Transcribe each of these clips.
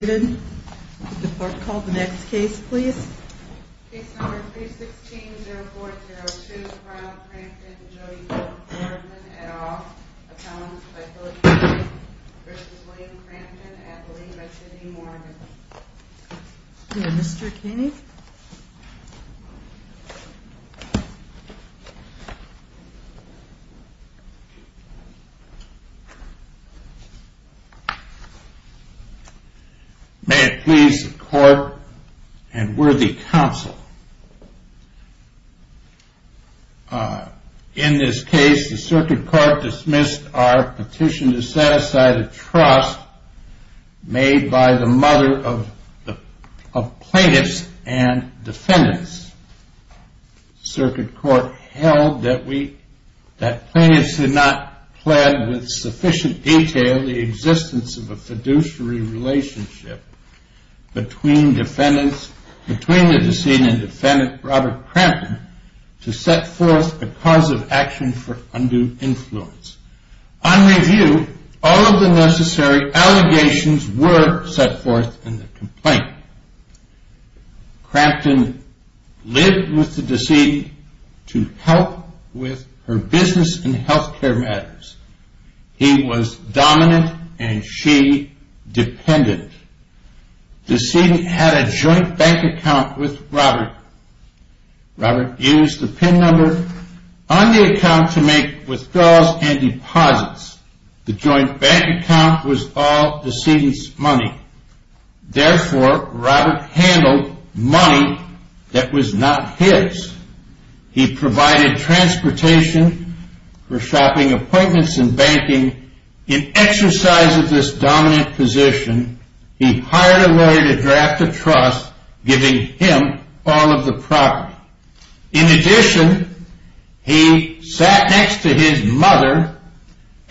The court called the next case, please. Case number 316-0402, Carl Crampton v. Jody Gordon-Eddow Appellant v. Philip Kennedy v. William Crampton Appellate v. Tiffany Morgan Mr. Kennedy May it please the court and worthy counsel, in this case the circuit court dismissed our petition to set aside a trust made by the mother of plaintiffs and defendants. The circuit court held that plaintiffs had not pled with sufficient detail the existence of a fiduciary relationship between the decedent and defendant, Robert Crampton, to set forth a cause of action for undue influence. On review, all of the necessary allegations were set forth in the complaint. Crampton lived with the decedent to help with her business and health care matters. He was dominant and she dependent. The decedent had a joint bank account with Robert. Robert used the PIN number on the account to make withdrawals and deposits. Therefore, Robert handled money that was not his. He provided transportation for shopping appointments and banking. In exercise of this dominant position, he hired a lawyer to draft a trust giving him all of the property. In addition, he sat next to his mother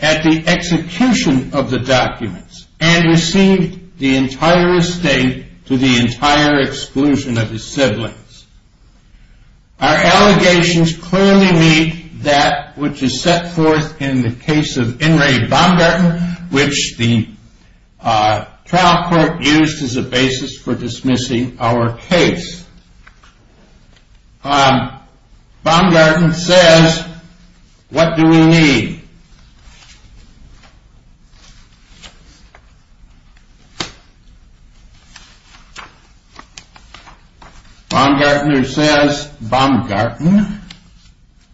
at the execution of the documents and received the entire estate to the entire exclusion of his siblings. Our allegations clearly meet that which is set forth in the case of In re Baumgarten, which the trial court used as a basis for dismissing our case. Baumgarten says, what do we need? Baumgartner says, Baumgarten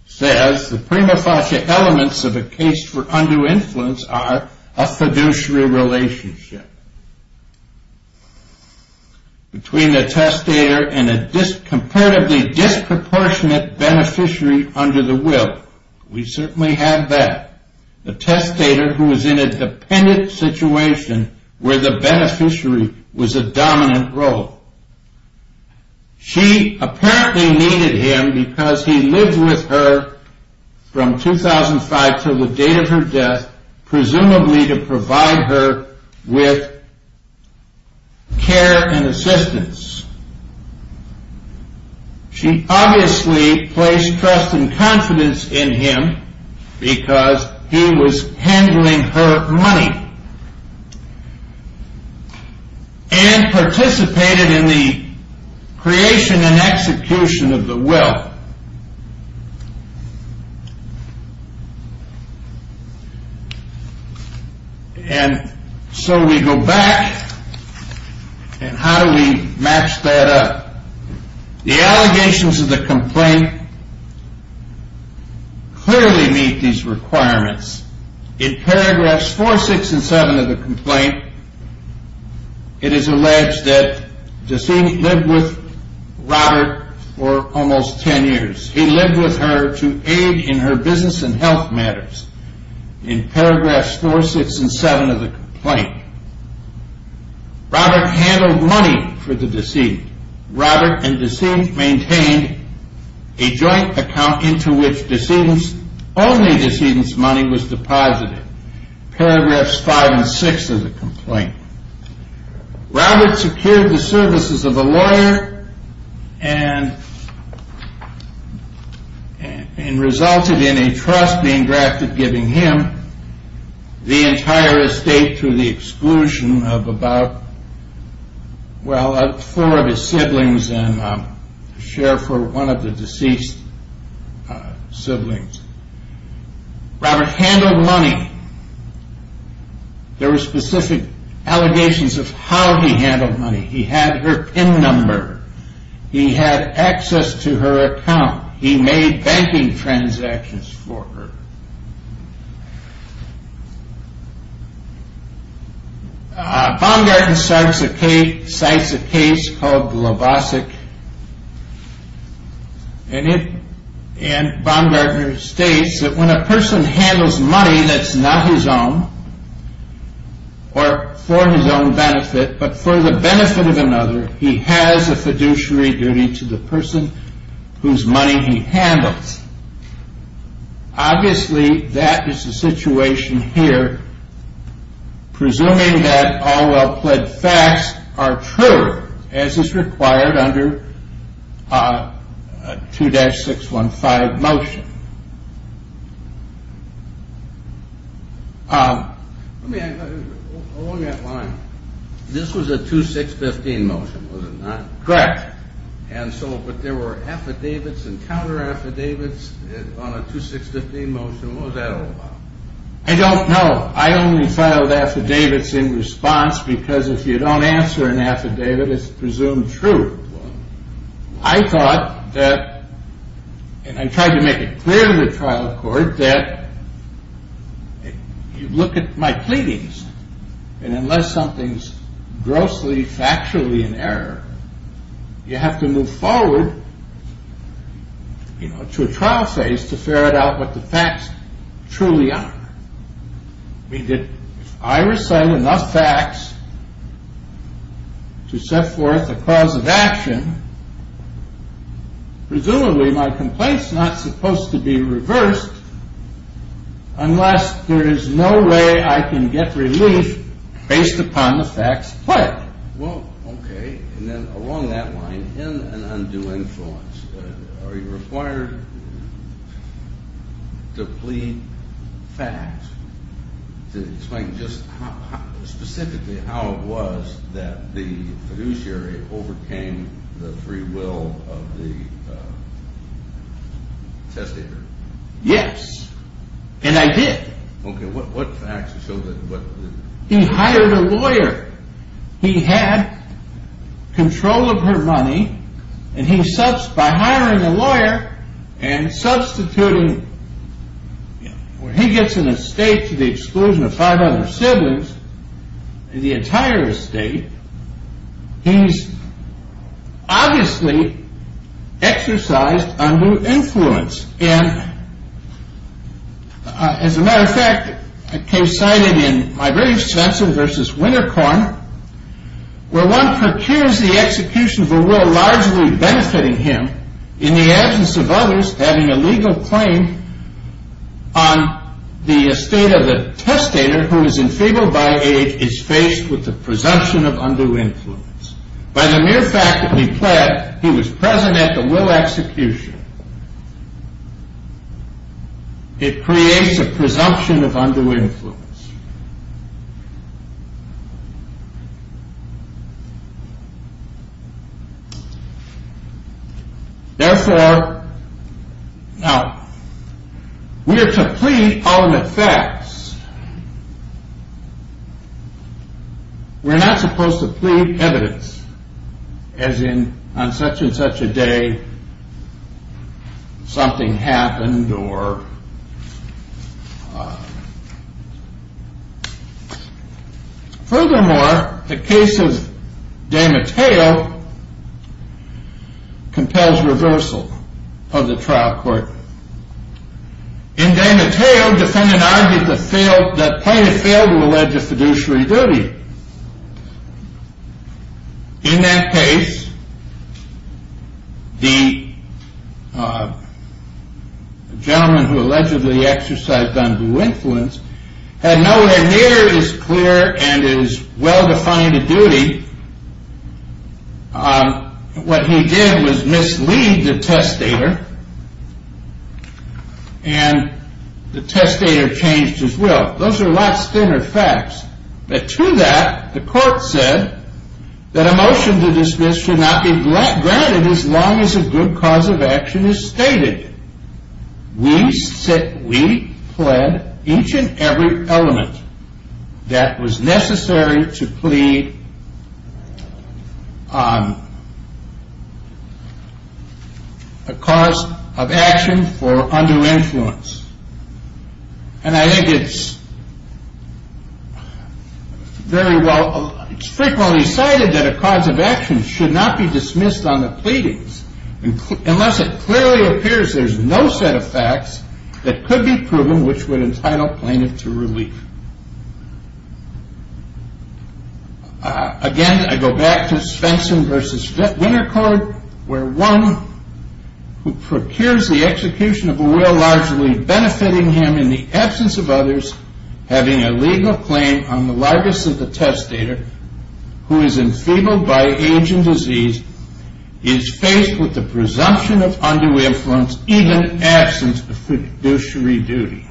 says, the prima facie elements of a case for undue influence are a fiduciary relationship between the testator and a comparatively disproportionate beneficiary under the will. We certainly have that. The testator who is in a dependent situation where the beneficiary was a dominant role. She apparently needed him because he lived with her from 2005 to the date of her death, presumably to provide her with care and assistance. She obviously placed trust and confidence in him because he was handling her money and participated in the creation and execution of the will. And so we go back and how do we match that up? The allegations of the complaint clearly meet these requirements. In paragraphs 4, 6, and 7 of the complaint, it is alleged that the decedent lived with Robert for almost 10 years. He lived with her to aid in her business and health matters. In paragraphs 4, 6, and 7 of the complaint, Robert handled money for the decedent. Robert and the decedent maintained a joint account into which only the decedent's money was deposited. Paragraphs 5 and 6 of the complaint. Robert secured the services of a lawyer and resulted in a trust being drafted giving him the entire estate to the exclusion of about four of his siblings and a share for one of the deceased siblings. Robert handled money. There were specific allegations of how he handled money. He had her PIN number. He had access to her account. He made banking transactions for her. Baumgartner cites a case called the Lobosik. Baumgartner states that when a person handles money that is not his own or for his own benefit but for the benefit of another, he has a fiduciary duty to the person whose money he handles. Obviously, that is the situation here. Presuming that all well-pled facts are true as is required under 2-615 motion. Along that line, this was a 2-615 motion, was it not? Correct. But there were affidavits and counter-affidavits on a 2-615 motion. What was that all about? I don't know. I only filed affidavits in response because if you don't answer an affidavit, it's presumed true. I thought that, and I tried to make it clear to the trial court that you look at my pleadings and unless something is grossly, factually in error, you have to move forward to a trial phase to ferret out what the facts truly are. If I recite enough facts to set forth a cause of action, presumably my complaint is not supposed to be reversed unless there is no way I can get relief based upon the facts played. Well, okay. And then along that line, in an undue influence, are you required to plead facts to explain just specifically how it was that the fiduciary overcame the free will of the testator? Yes, and I did. Okay. He hired a lawyer. He had control of her money, and he, by hiring a lawyer and substituting, where he gets an estate to the exclusion of five other siblings, the entire estate, he's obviously exercised undue influence. And as a matter of fact, a case cited in my very extensive versus Wintercorn, where one procures the execution of a will largely benefiting him in the absence of others having a legal claim on the estate of the testator who is enfeebled by age, is faced with the presumption of undue influence. By the mere fact that he pled, he was present at the will execution. It creates a presumption of undue influence. Therefore, now, we are to plead our own effects. We're not supposed to plead evidence, as in, on such and such a day, something happened or... Furthermore, the case of DeMatteo compels reversal of the trial court. In DeMatteo, defendant argued that plaintiff failed to allege a fiduciary duty. In that case, the gentleman who allegedly exercised undue influence had nowhere near as clear and as well-defined a duty. What he did was mislead the testator, and the testator changed his will. Those are lots thinner facts. But to that, the court said that a motion to dismiss should not be granted as long as a good cause of action is stated. We pled each and every element that was necessary to plead a cause of action for undue influence. And I think it's very well... It's frequently cited that a cause of action should not be dismissed on the pleadings unless it clearly appears there's no set of facts that could be proven which would entitle plaintiff to relief. Again, I go back to Spenson v. Wintercourt, where one who procures the execution of a will largely benefiting him in the absence of others, having a legal claim on the largest of the testator, who is enfeebled by age and disease, is faced with the presumption of undue influence, even in absence of fiduciary duty.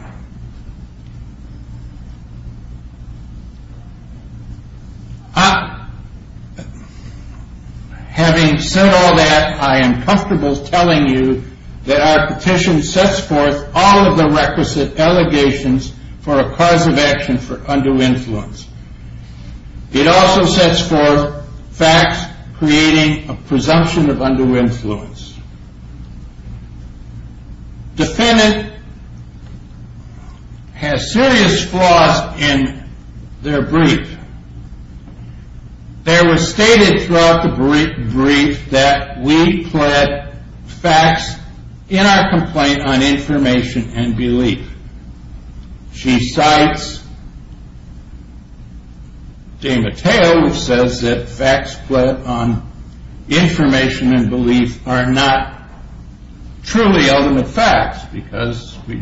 Having said all that, I am comfortable telling you that our petition sets forth all of the requisite allegations for a cause of action for undue influence. It also sets forth facts creating a presumption of undue influence. Defendant has serious flaws in their brief. There was stated throughout the brief that we pled facts in our complaint on information and belief. She cites De Matteo, who says that facts pled on information and belief are not truly ultimate facts, because we're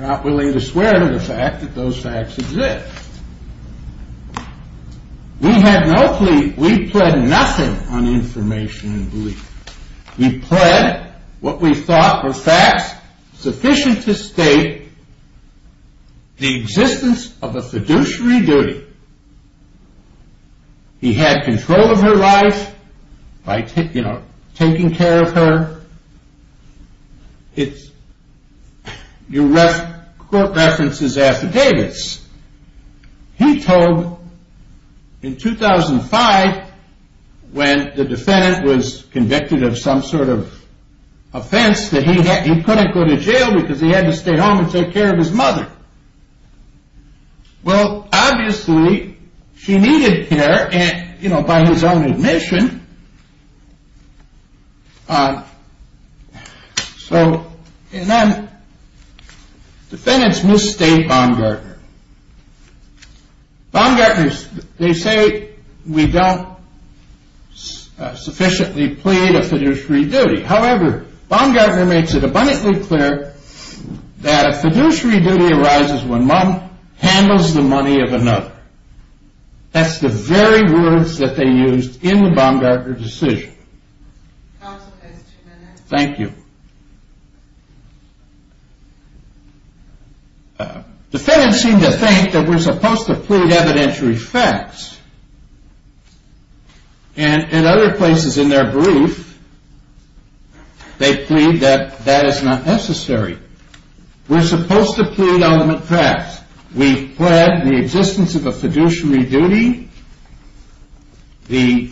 not willing to swear to the fact that those facts exist. We had no plea... We pled nothing on information and belief. We pled what we thought were facts sufficient to state the existence of a fiduciary duty. He had control of her life by taking care of her. Court references affidavits. He told, in 2005, when the defendant was convicted of some sort of offense, that he couldn't go to jail because he had to stay home and take care of his mother. Well, obviously, she needed care, by his own admission. So, and then, defendants misstate Baumgartner. Baumgartner, they say we don't sufficiently plead a fiduciary duty. However, Baumgartner makes it abundantly clear that a fiduciary duty arises when one handles the money of another. That's the very words that they used in the Baumgartner decision. Counsel has two minutes. Thank you. Defendants seem to think that we're supposed to plead evidentiary facts. And in other places in their brief, they plead that that is not necessary. We're supposed to plead ultimate facts. We've pled the existence of a fiduciary duty, the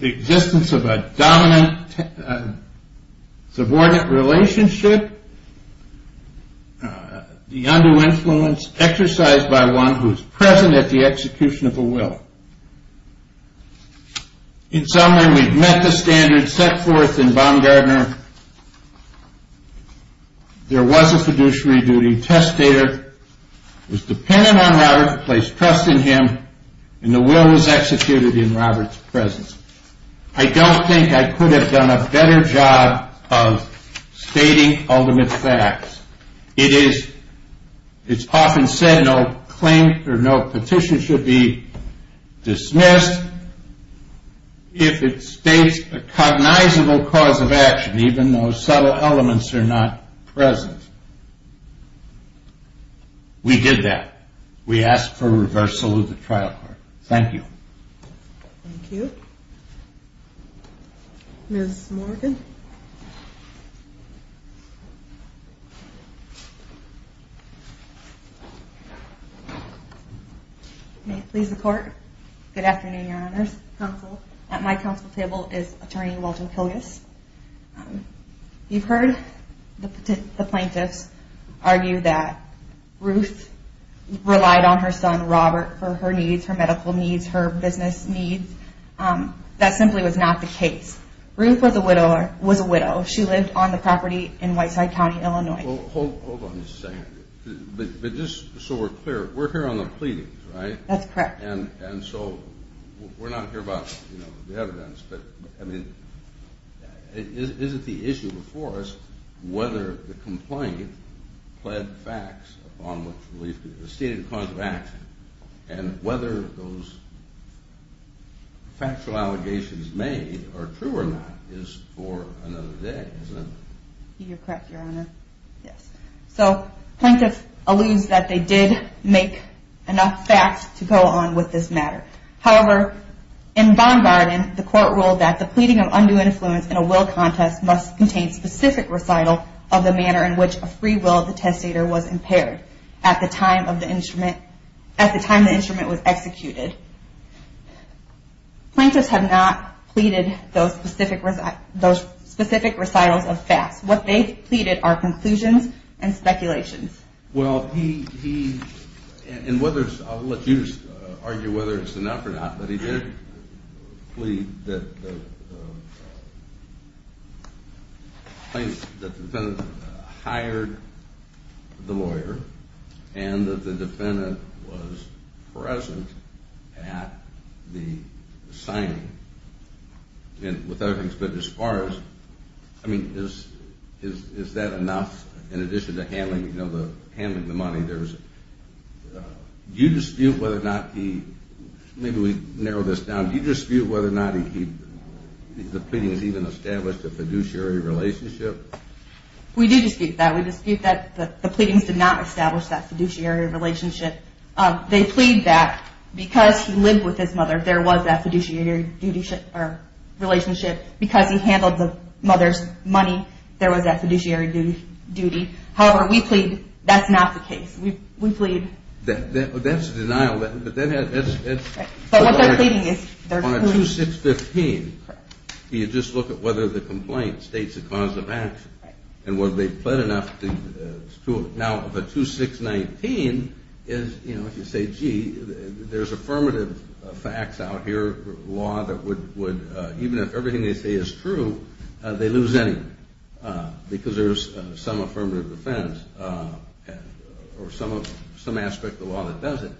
existence of a dominant subordinate relationship, the undue influence exercised by one who is present at the execution of a will. In summary, we've met the standards set forth in Baumgartner. There was a fiduciary duty. Testator was dependent on Robert, placed trust in him, and the will was executed in Robert's presence. I don't think I could have done a better job of stating ultimate facts. It is, it's often said no claim or no petition should be dismissed if it states a cognizable cause of action. Even though subtle elements are not present. We did that. We asked for reversal of the trial court. Thank you. Thank you. Ms. Morgan. May it please the court. Good afternoon, Your Honors. Counsel. At my counsel table is Attorney Walton Pilgus. You've heard the plaintiffs argue that Ruth relied on her son, Robert, for her needs, her medical needs, her business needs. That simply was not the case. Ruth was a widow. She lived on the property in Whiteside County, Illinois. Hold on just a second. But just so we're clear, we're here on the pleadings, right? That's correct. And so we're not here about, you know, the evidence. But, I mean, is it the issue before us whether the complaint pled facts upon which the stated cause of action and whether those factual allegations made are true or not is for another day, isn't it? You're correct, Your Honor. Yes. So plaintiffs allude that they did make enough facts to go on with this matter. However, in Baumgarten, the court ruled that the pleading of undue influence in a will contest must contain specific recital of the manner in which a free will of the testator was impaired at the time the instrument was executed. Plaintiffs have not pleaded those specific recitals of facts. What they've pleaded are conclusions and speculations. Well, he, and whether, I'll let you argue whether it's enough or not, but he did plead that the defendant hired the lawyer and that the defendant was present at the signing. And with other things, but as far as, I mean, is that enough? In addition to handling the money, do you dispute whether or not he, maybe we narrow this down, do you dispute whether or not the pleadings even established a fiduciary relationship? We do dispute that. We dispute that the pleadings did not establish that fiduciary relationship. They plead that because he lived with his mother, there was that fiduciary relationship. Because he handled the mother's money, there was that fiduciary duty. However, we plead that's not the case. We plead... That's a denial. But what they're pleading is... On a 2-6-15, you just look at whether the complaint states a cause of action. And whether they've pled enough to... Now, the 2-6-19 is, you know, if you say, gee, there's affirmative facts out here, law that would, even if everything they say is true, they lose anything. Because there's some affirmative defense or some aspect of the law that does it.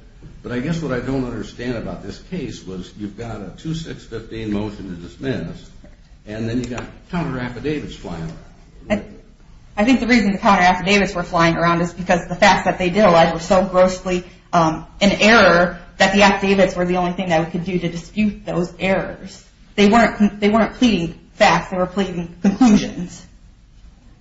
But I guess what I don't understand about this case was you've got a 2-6-15 motion to dismiss, and then you've got counter affidavits flying around. I think the reason the counter affidavits were flying around is because the facts that they did allege were so grossly in error that the affidavits were the only thing that we could do to dispute those errors. They weren't pleading facts, they were pleading conclusions.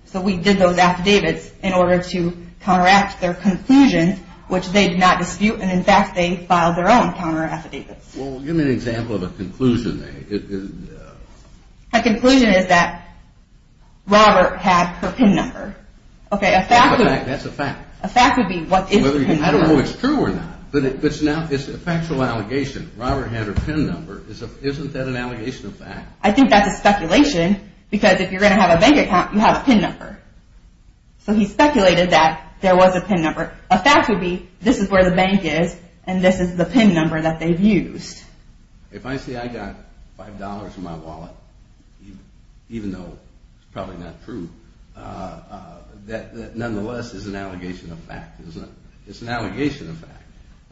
So we did those affidavits in order to counteract their conclusions, which they did not dispute, and in fact, they filed their own counter affidavits. Well, give me an example of a conclusion. A conclusion is that Robert had her PIN number. That's a fact. A fact would be what is her PIN number. I don't know if it's true or not, but it's a factual allegation. Robert had her PIN number. Isn't that an allegation of fact? I think that's a speculation, because if you're going to have a bank account, you have a PIN number. So he speculated that there was a PIN number. A fact would be this is where the bank is, and this is the PIN number that they've used. If I say I got $5 from my wallet, even though it's probably not true, that nonetheless is an allegation of fact. It's an allegation of fact.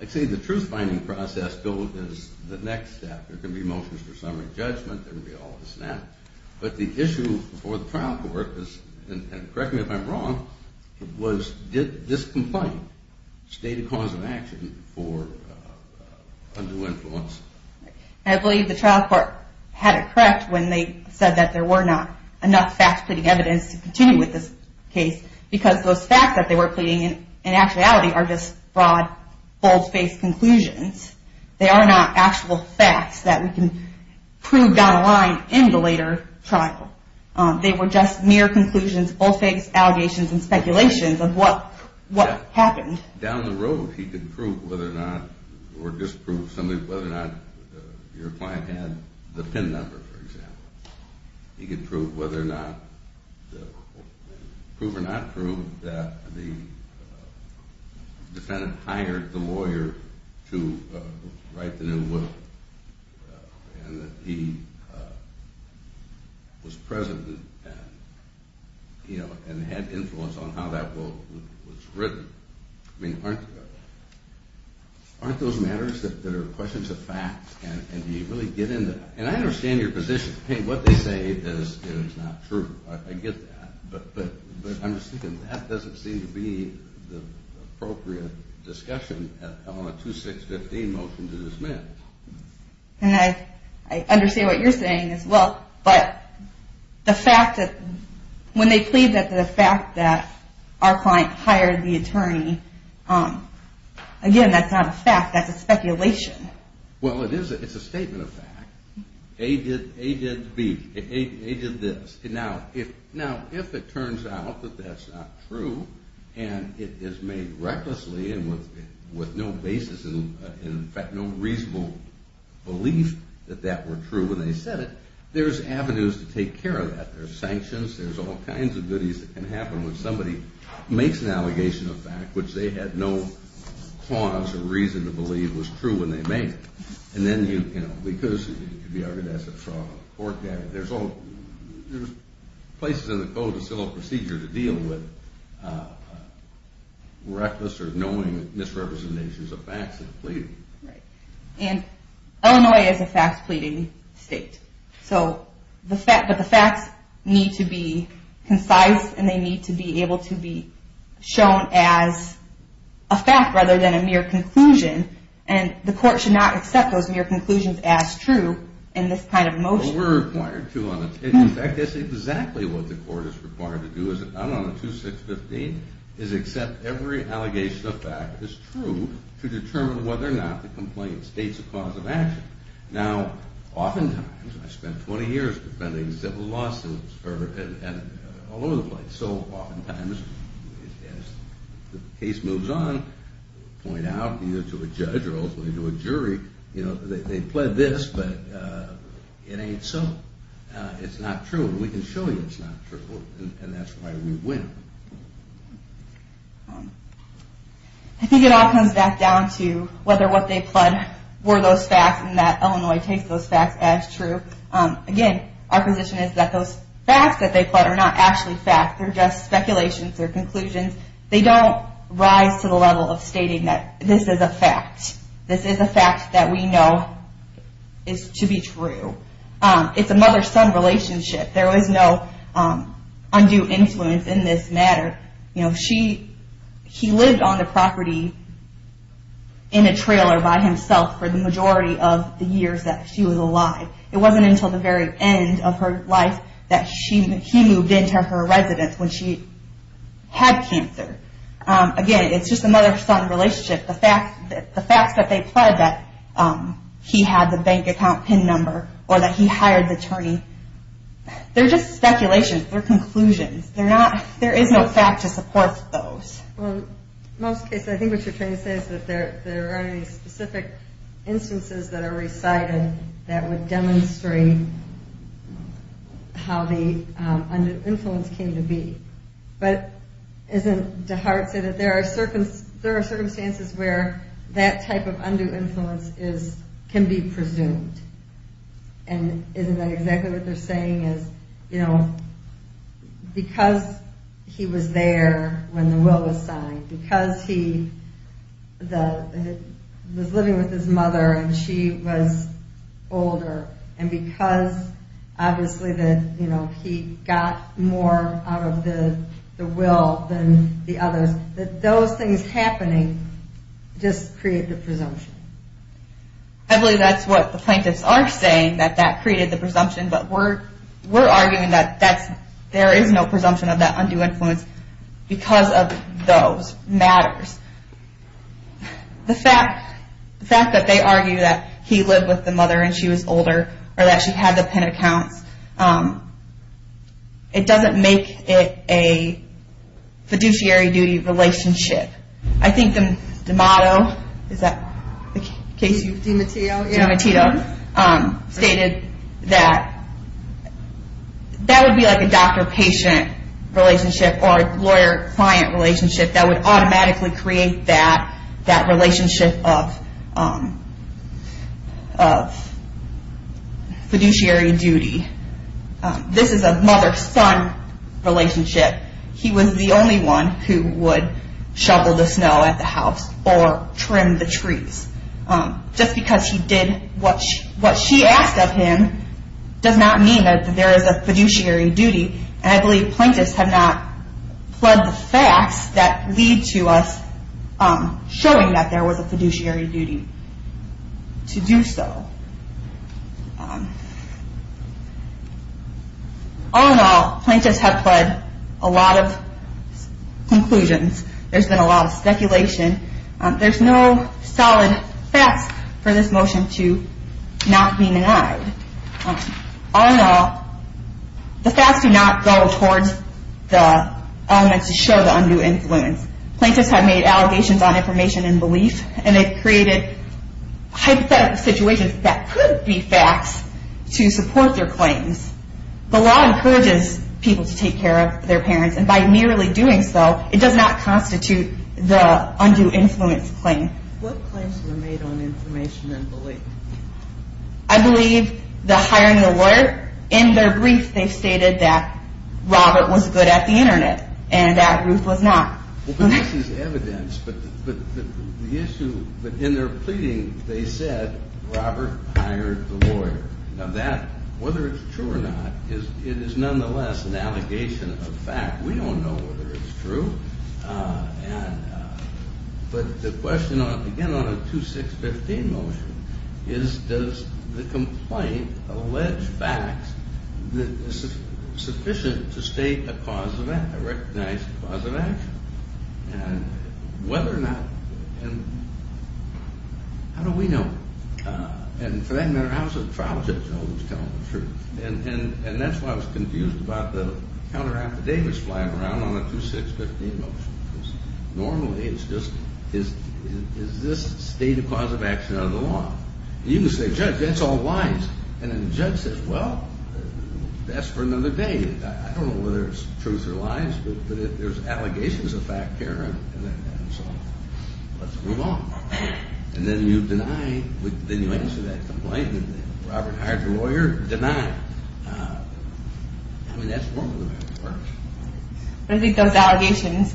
Let's say the truth-finding process goes as the next step. There can be motions for summary judgment, there can be all of a sudden. But the issue before the trial court, and correct me if I'm wrong, was did this complaint state a cause of action for undue influence? I believe the trial court had it correct when they said that there were not enough facts, pleading evidence to continue with this case, because those facts that they were pleading in actuality are just broad, bold-faced conclusions. They are not actual facts that we can prove down the line in the later trial. They were just mere conclusions, bold-faced allegations and speculations of what happened. Down the road, he could prove whether or not, or disprove something, whether or not your client had the PIN number, for example. He could prove whether or not, prove or not prove, that the defendant hired the lawyer to write the new will, and that he was present and had influence on how that will was written. I mean, aren't those matters that are questions of facts? And do you really get into that? And I understand your position. Hey, what they say is not true. I get that. But I'm just thinking that doesn't seem to be the appropriate discussion on a 2-6-15 motion to dismiss. And I understand what you're saying as well, but the fact that when they plead that the fact that our client hired the attorney, again, that's not a fact. That's a speculation. Well, it is. It's a statement of fact. A did B. A did this. Now, if it turns out that that's not true, and it is made recklessly and with no basis in fact, no reasonable belief that that were true when they said it, there's avenues to take care of that. There's sanctions. There's all kinds of goodies that can happen when somebody makes an allegation of fact which they had no cause or reason to believe was true when they made it. And then, you know, because it could be argued as a fraud on the court, there's places in the code of civil procedure to deal with reckless or knowing misrepresentations of facts that are pleading. Right. And Illinois is a facts-pleading state. So the fact that the facts need to be concise, and they need to be able to be shown as a fact rather than a mere conclusion, and the court should not accept those mere conclusions as true in this kind of motion. Well, we're required to on a case. In fact, that's exactly what the court is required to do. I'm on a 2-6-15 is accept every allegation of fact as true to determine whether or not the complaint states a cause of action. Now, oftentimes, I spent 20 years defending civil lawsuits all over the place. So oftentimes, as the case moves on, point out either to a judge or ultimately to a jury, you know, they pled this, but it ain't so. It's not true. We can show you it's not true. And that's why we win. I think it all comes back down to whether what they pled were those facts and that Illinois takes those facts as true. Again, our position is that those facts that they pled are not actually facts. They're just speculations. They're conclusions. They don't rise to the level of stating that this is a fact. This is a fact that we know is to be true. It's a mother-son relationship. There was no undue influence in this matter. You know, he lived on the property in a trailer by himself for the majority of the years that she was alive. It wasn't until the very end of her life that he moved into her residence when she had cancer. Again, it's just a mother-son relationship. The facts that they pled that he had the bank account PIN number or that he hired the attorney, they're just speculations. They're conclusions. There is no fact to support those. Well, in most cases, I think what you're trying to say is that there aren't any specific instances that are recited that would demonstrate how the undue influence came to be. But isn't DeHart saying that there are circumstances where that type of undue influence can be presumed? And isn't that exactly what they're saying is, you know, because he was there when the will was signed, because he was living with his mother and she was older, and because obviously he got more out of the will than the others, that those things happening just create the presumption. I believe that's what the plaintiffs are saying, that that created the presumption. But we're arguing that there is no presumption of that undue influence because of those matters. The fact that they argue that he lived with the mother and she was older or that she had the PIN accounts, it doesn't make it a fiduciary duty relationship. I think DeMato, is that the case? DeMateo, yeah. DeMateo stated that that would be like a doctor-patient relationship or lawyer-client relationship that would automatically create that relationship of fiduciary duty. This is a mother-son relationship. He was the only one who would shovel the snow at the house or trim the trees. Just because he did what she asked of him does not mean that there is a fiduciary duty. And I believe plaintiffs have not pled the facts that lead to us showing that there was a fiduciary duty to do so. All in all, plaintiffs have pled a lot of conclusions. There's been a lot of speculation. There's no solid facts for this motion to not be denied. All in all, the facts do not go towards the elements to show the undue influence. Plaintiffs have made allegations on information and belief, and they've created hypothetical situations that could be facts to support their claims. The law encourages people to take care of their parents, and by merely doing so, it does not constitute the undue influence claim. What claims were made on information and belief? I believe the hiring the lawyer. In their brief, they stated that Robert was good at the Internet and that Ruth was not. Well, but this is evidence. But in their pleading, they said Robert hired the lawyer. Now, whether it's true or not, it is nonetheless an allegation of fact. We don't know whether it's true. But the question, again on a 2-6-15 motion, is does the complaint allege facts sufficient to state a cause of action, a recognized cause of action? And whether or not, and how do we know? And for that matter, how does the trial judge know who's telling the truth? And that's why I was confused about the counter affidavits flying around on a 2-6-15 motion. Normally, it's just, is this state a cause of action under the law? You can say, Judge, that's all lies. And then the judge says, well, that's for another day. I don't know whether it's truth or lies, but there's allegations of fact here. And so, let's move on. And then you deny, then you answer that complaint, and then Robert hired the lawyer, deny. I mean, that's normally how it works. I think those allegations,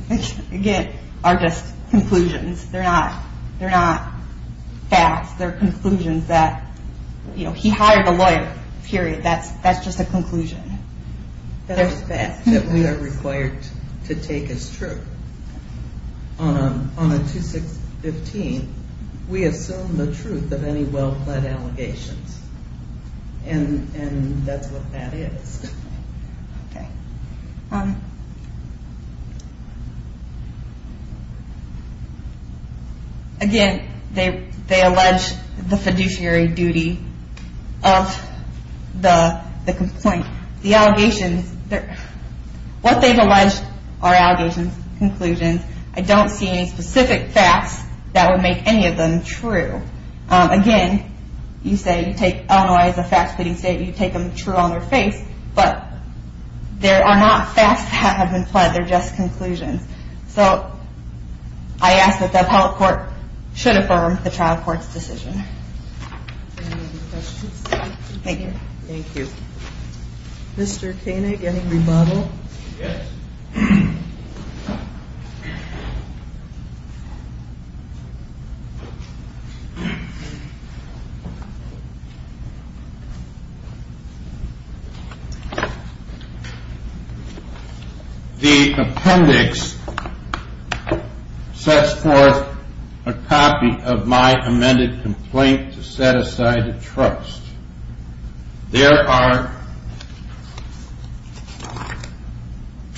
again, are just conclusions. They're not facts. They're conclusions that, you know, he hired the lawyer, period. That's just a conclusion. That we are required to take as true. On a 2-6-15, we assume the truth of any well-pled allegations. And that's what that is. Okay. Again, they allege the fiduciary duty of the complaint. The allegations, what they've alleged are allegations, conclusions. I don't see any specific facts that would make any of them true. Again, you say you take Illinois as a fact-pitting state, you take them true on their face, but there are not facts that have been pled, they're just conclusions. So, I ask that the appellate court should affirm the trial court's decision. Any other questions? Thank you. Thank you. Mr. Koenig, any rebuttal? Yes. Thank you. The appendix sets forth a copy of my amended complaint to set aside a trust. There are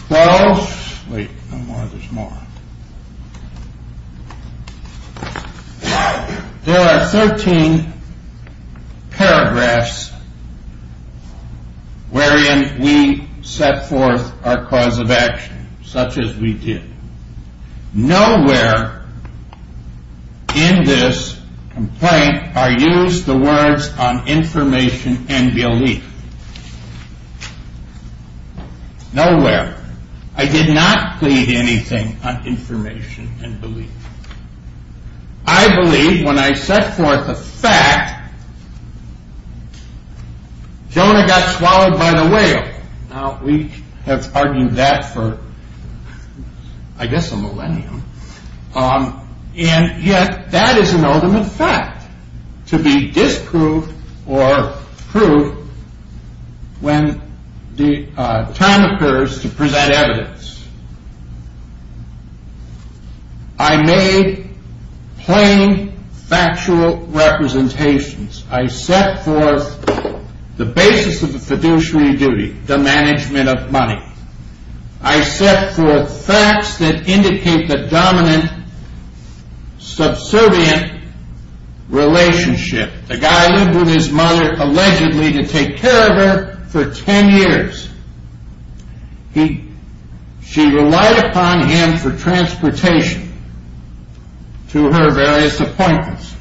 12, wait, no more, there's more. There are 13 paragraphs wherein we set forth our cause of action, such as we did. Nowhere in this complaint are used the words on information and belief. Nowhere. I did not plead anything on information and belief. I believe when I set forth a fact, Jonah got swallowed by the whale. Now, we have argued that for, I guess, a millennium, and yet that is an ultimate fact to be disproved or proved when the time occurs to present evidence. I made plain factual representations. I set forth the basis of the fiduciary duty, the management of money. I set forth facts that indicate the dominant subservient relationship. The guy lived with his mother, allegedly, to take care of her for 10 years. She relied upon him for transportation to her various appointments.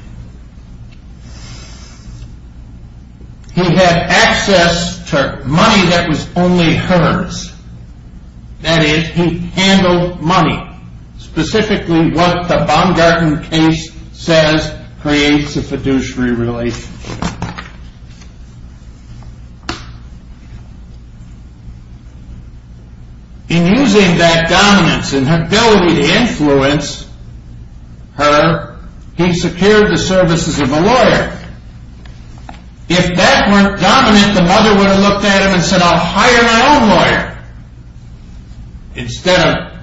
He had access to money that was only hers. That is, he handled money. Specifically, what the Baumgarten case says creates a fiduciary relationship. In using that dominance and ability to influence her, he secured the services of a lawyer. If that weren't dominant, the mother would have looked at him and said, I'll hire my own lawyer, instead of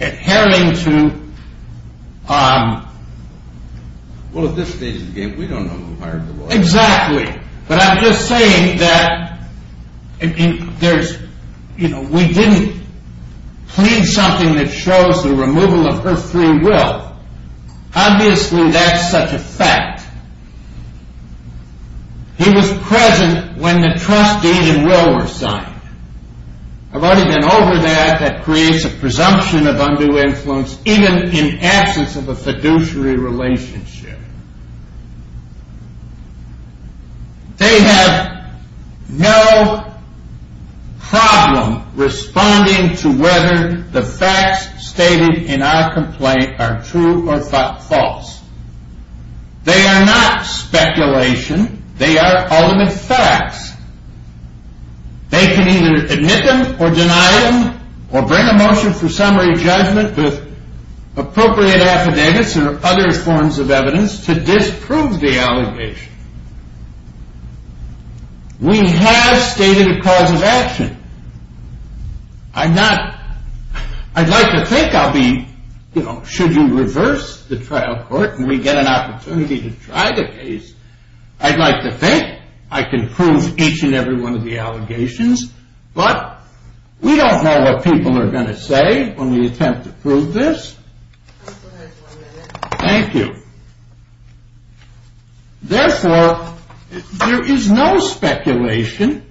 adhering to... Well, at this stage of the game, we don't know who hired the lawyer. Exactly. But I'm just saying that we didn't plead something that shows the removal of her free will. Obviously, that's such a fact. He was present when the trust deed and will were signed. I've already been over that. That creates a presumption of undue influence, even in absence of a fiduciary relationship. They have no problem responding to whether the facts stated in our complaint are true or false. They are not speculation. They are ultimate facts. They can either admit them or deny them, or bring a motion for summary judgment with appropriate affidavits or other forms of evidence to disprove the allegation. We have stated a cause of action. I'd like to think I'll be, you know, should you reverse the trial court and we get an opportunity to try the case, I'd like to think I can prove each and every one of the allegations, but we don't know what people are going to say when we attempt to prove this. Thank you. Therefore, there is no speculation.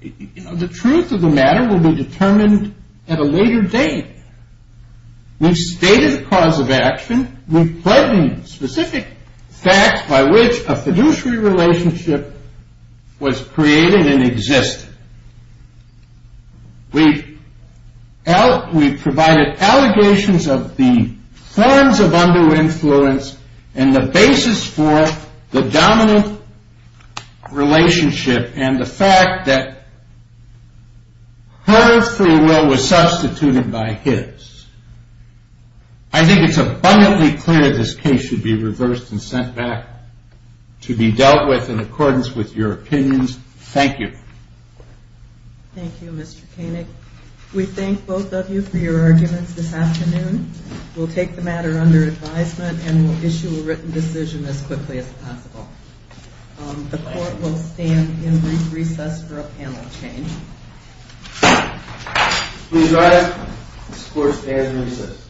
The truth of the matter will be determined at a later date. We've stated a cause of action. We've pledged specific facts by which a fiduciary relationship was created and existed. We've provided allegations of the forms of under-influence and the basis for the domino relationship and the fact that her free will was substituted by his. I think it's abundantly clear this case should be reversed and sent back to be dealt with in accordance with your opinions. Thank you. Thank you, Mr. Koenig. We thank both of you for your arguments this afternoon. We'll take the matter under advisement and we'll issue a written decision as quickly as possible. The court will stand in recess for a panel change. Please rise. This court stands in recess.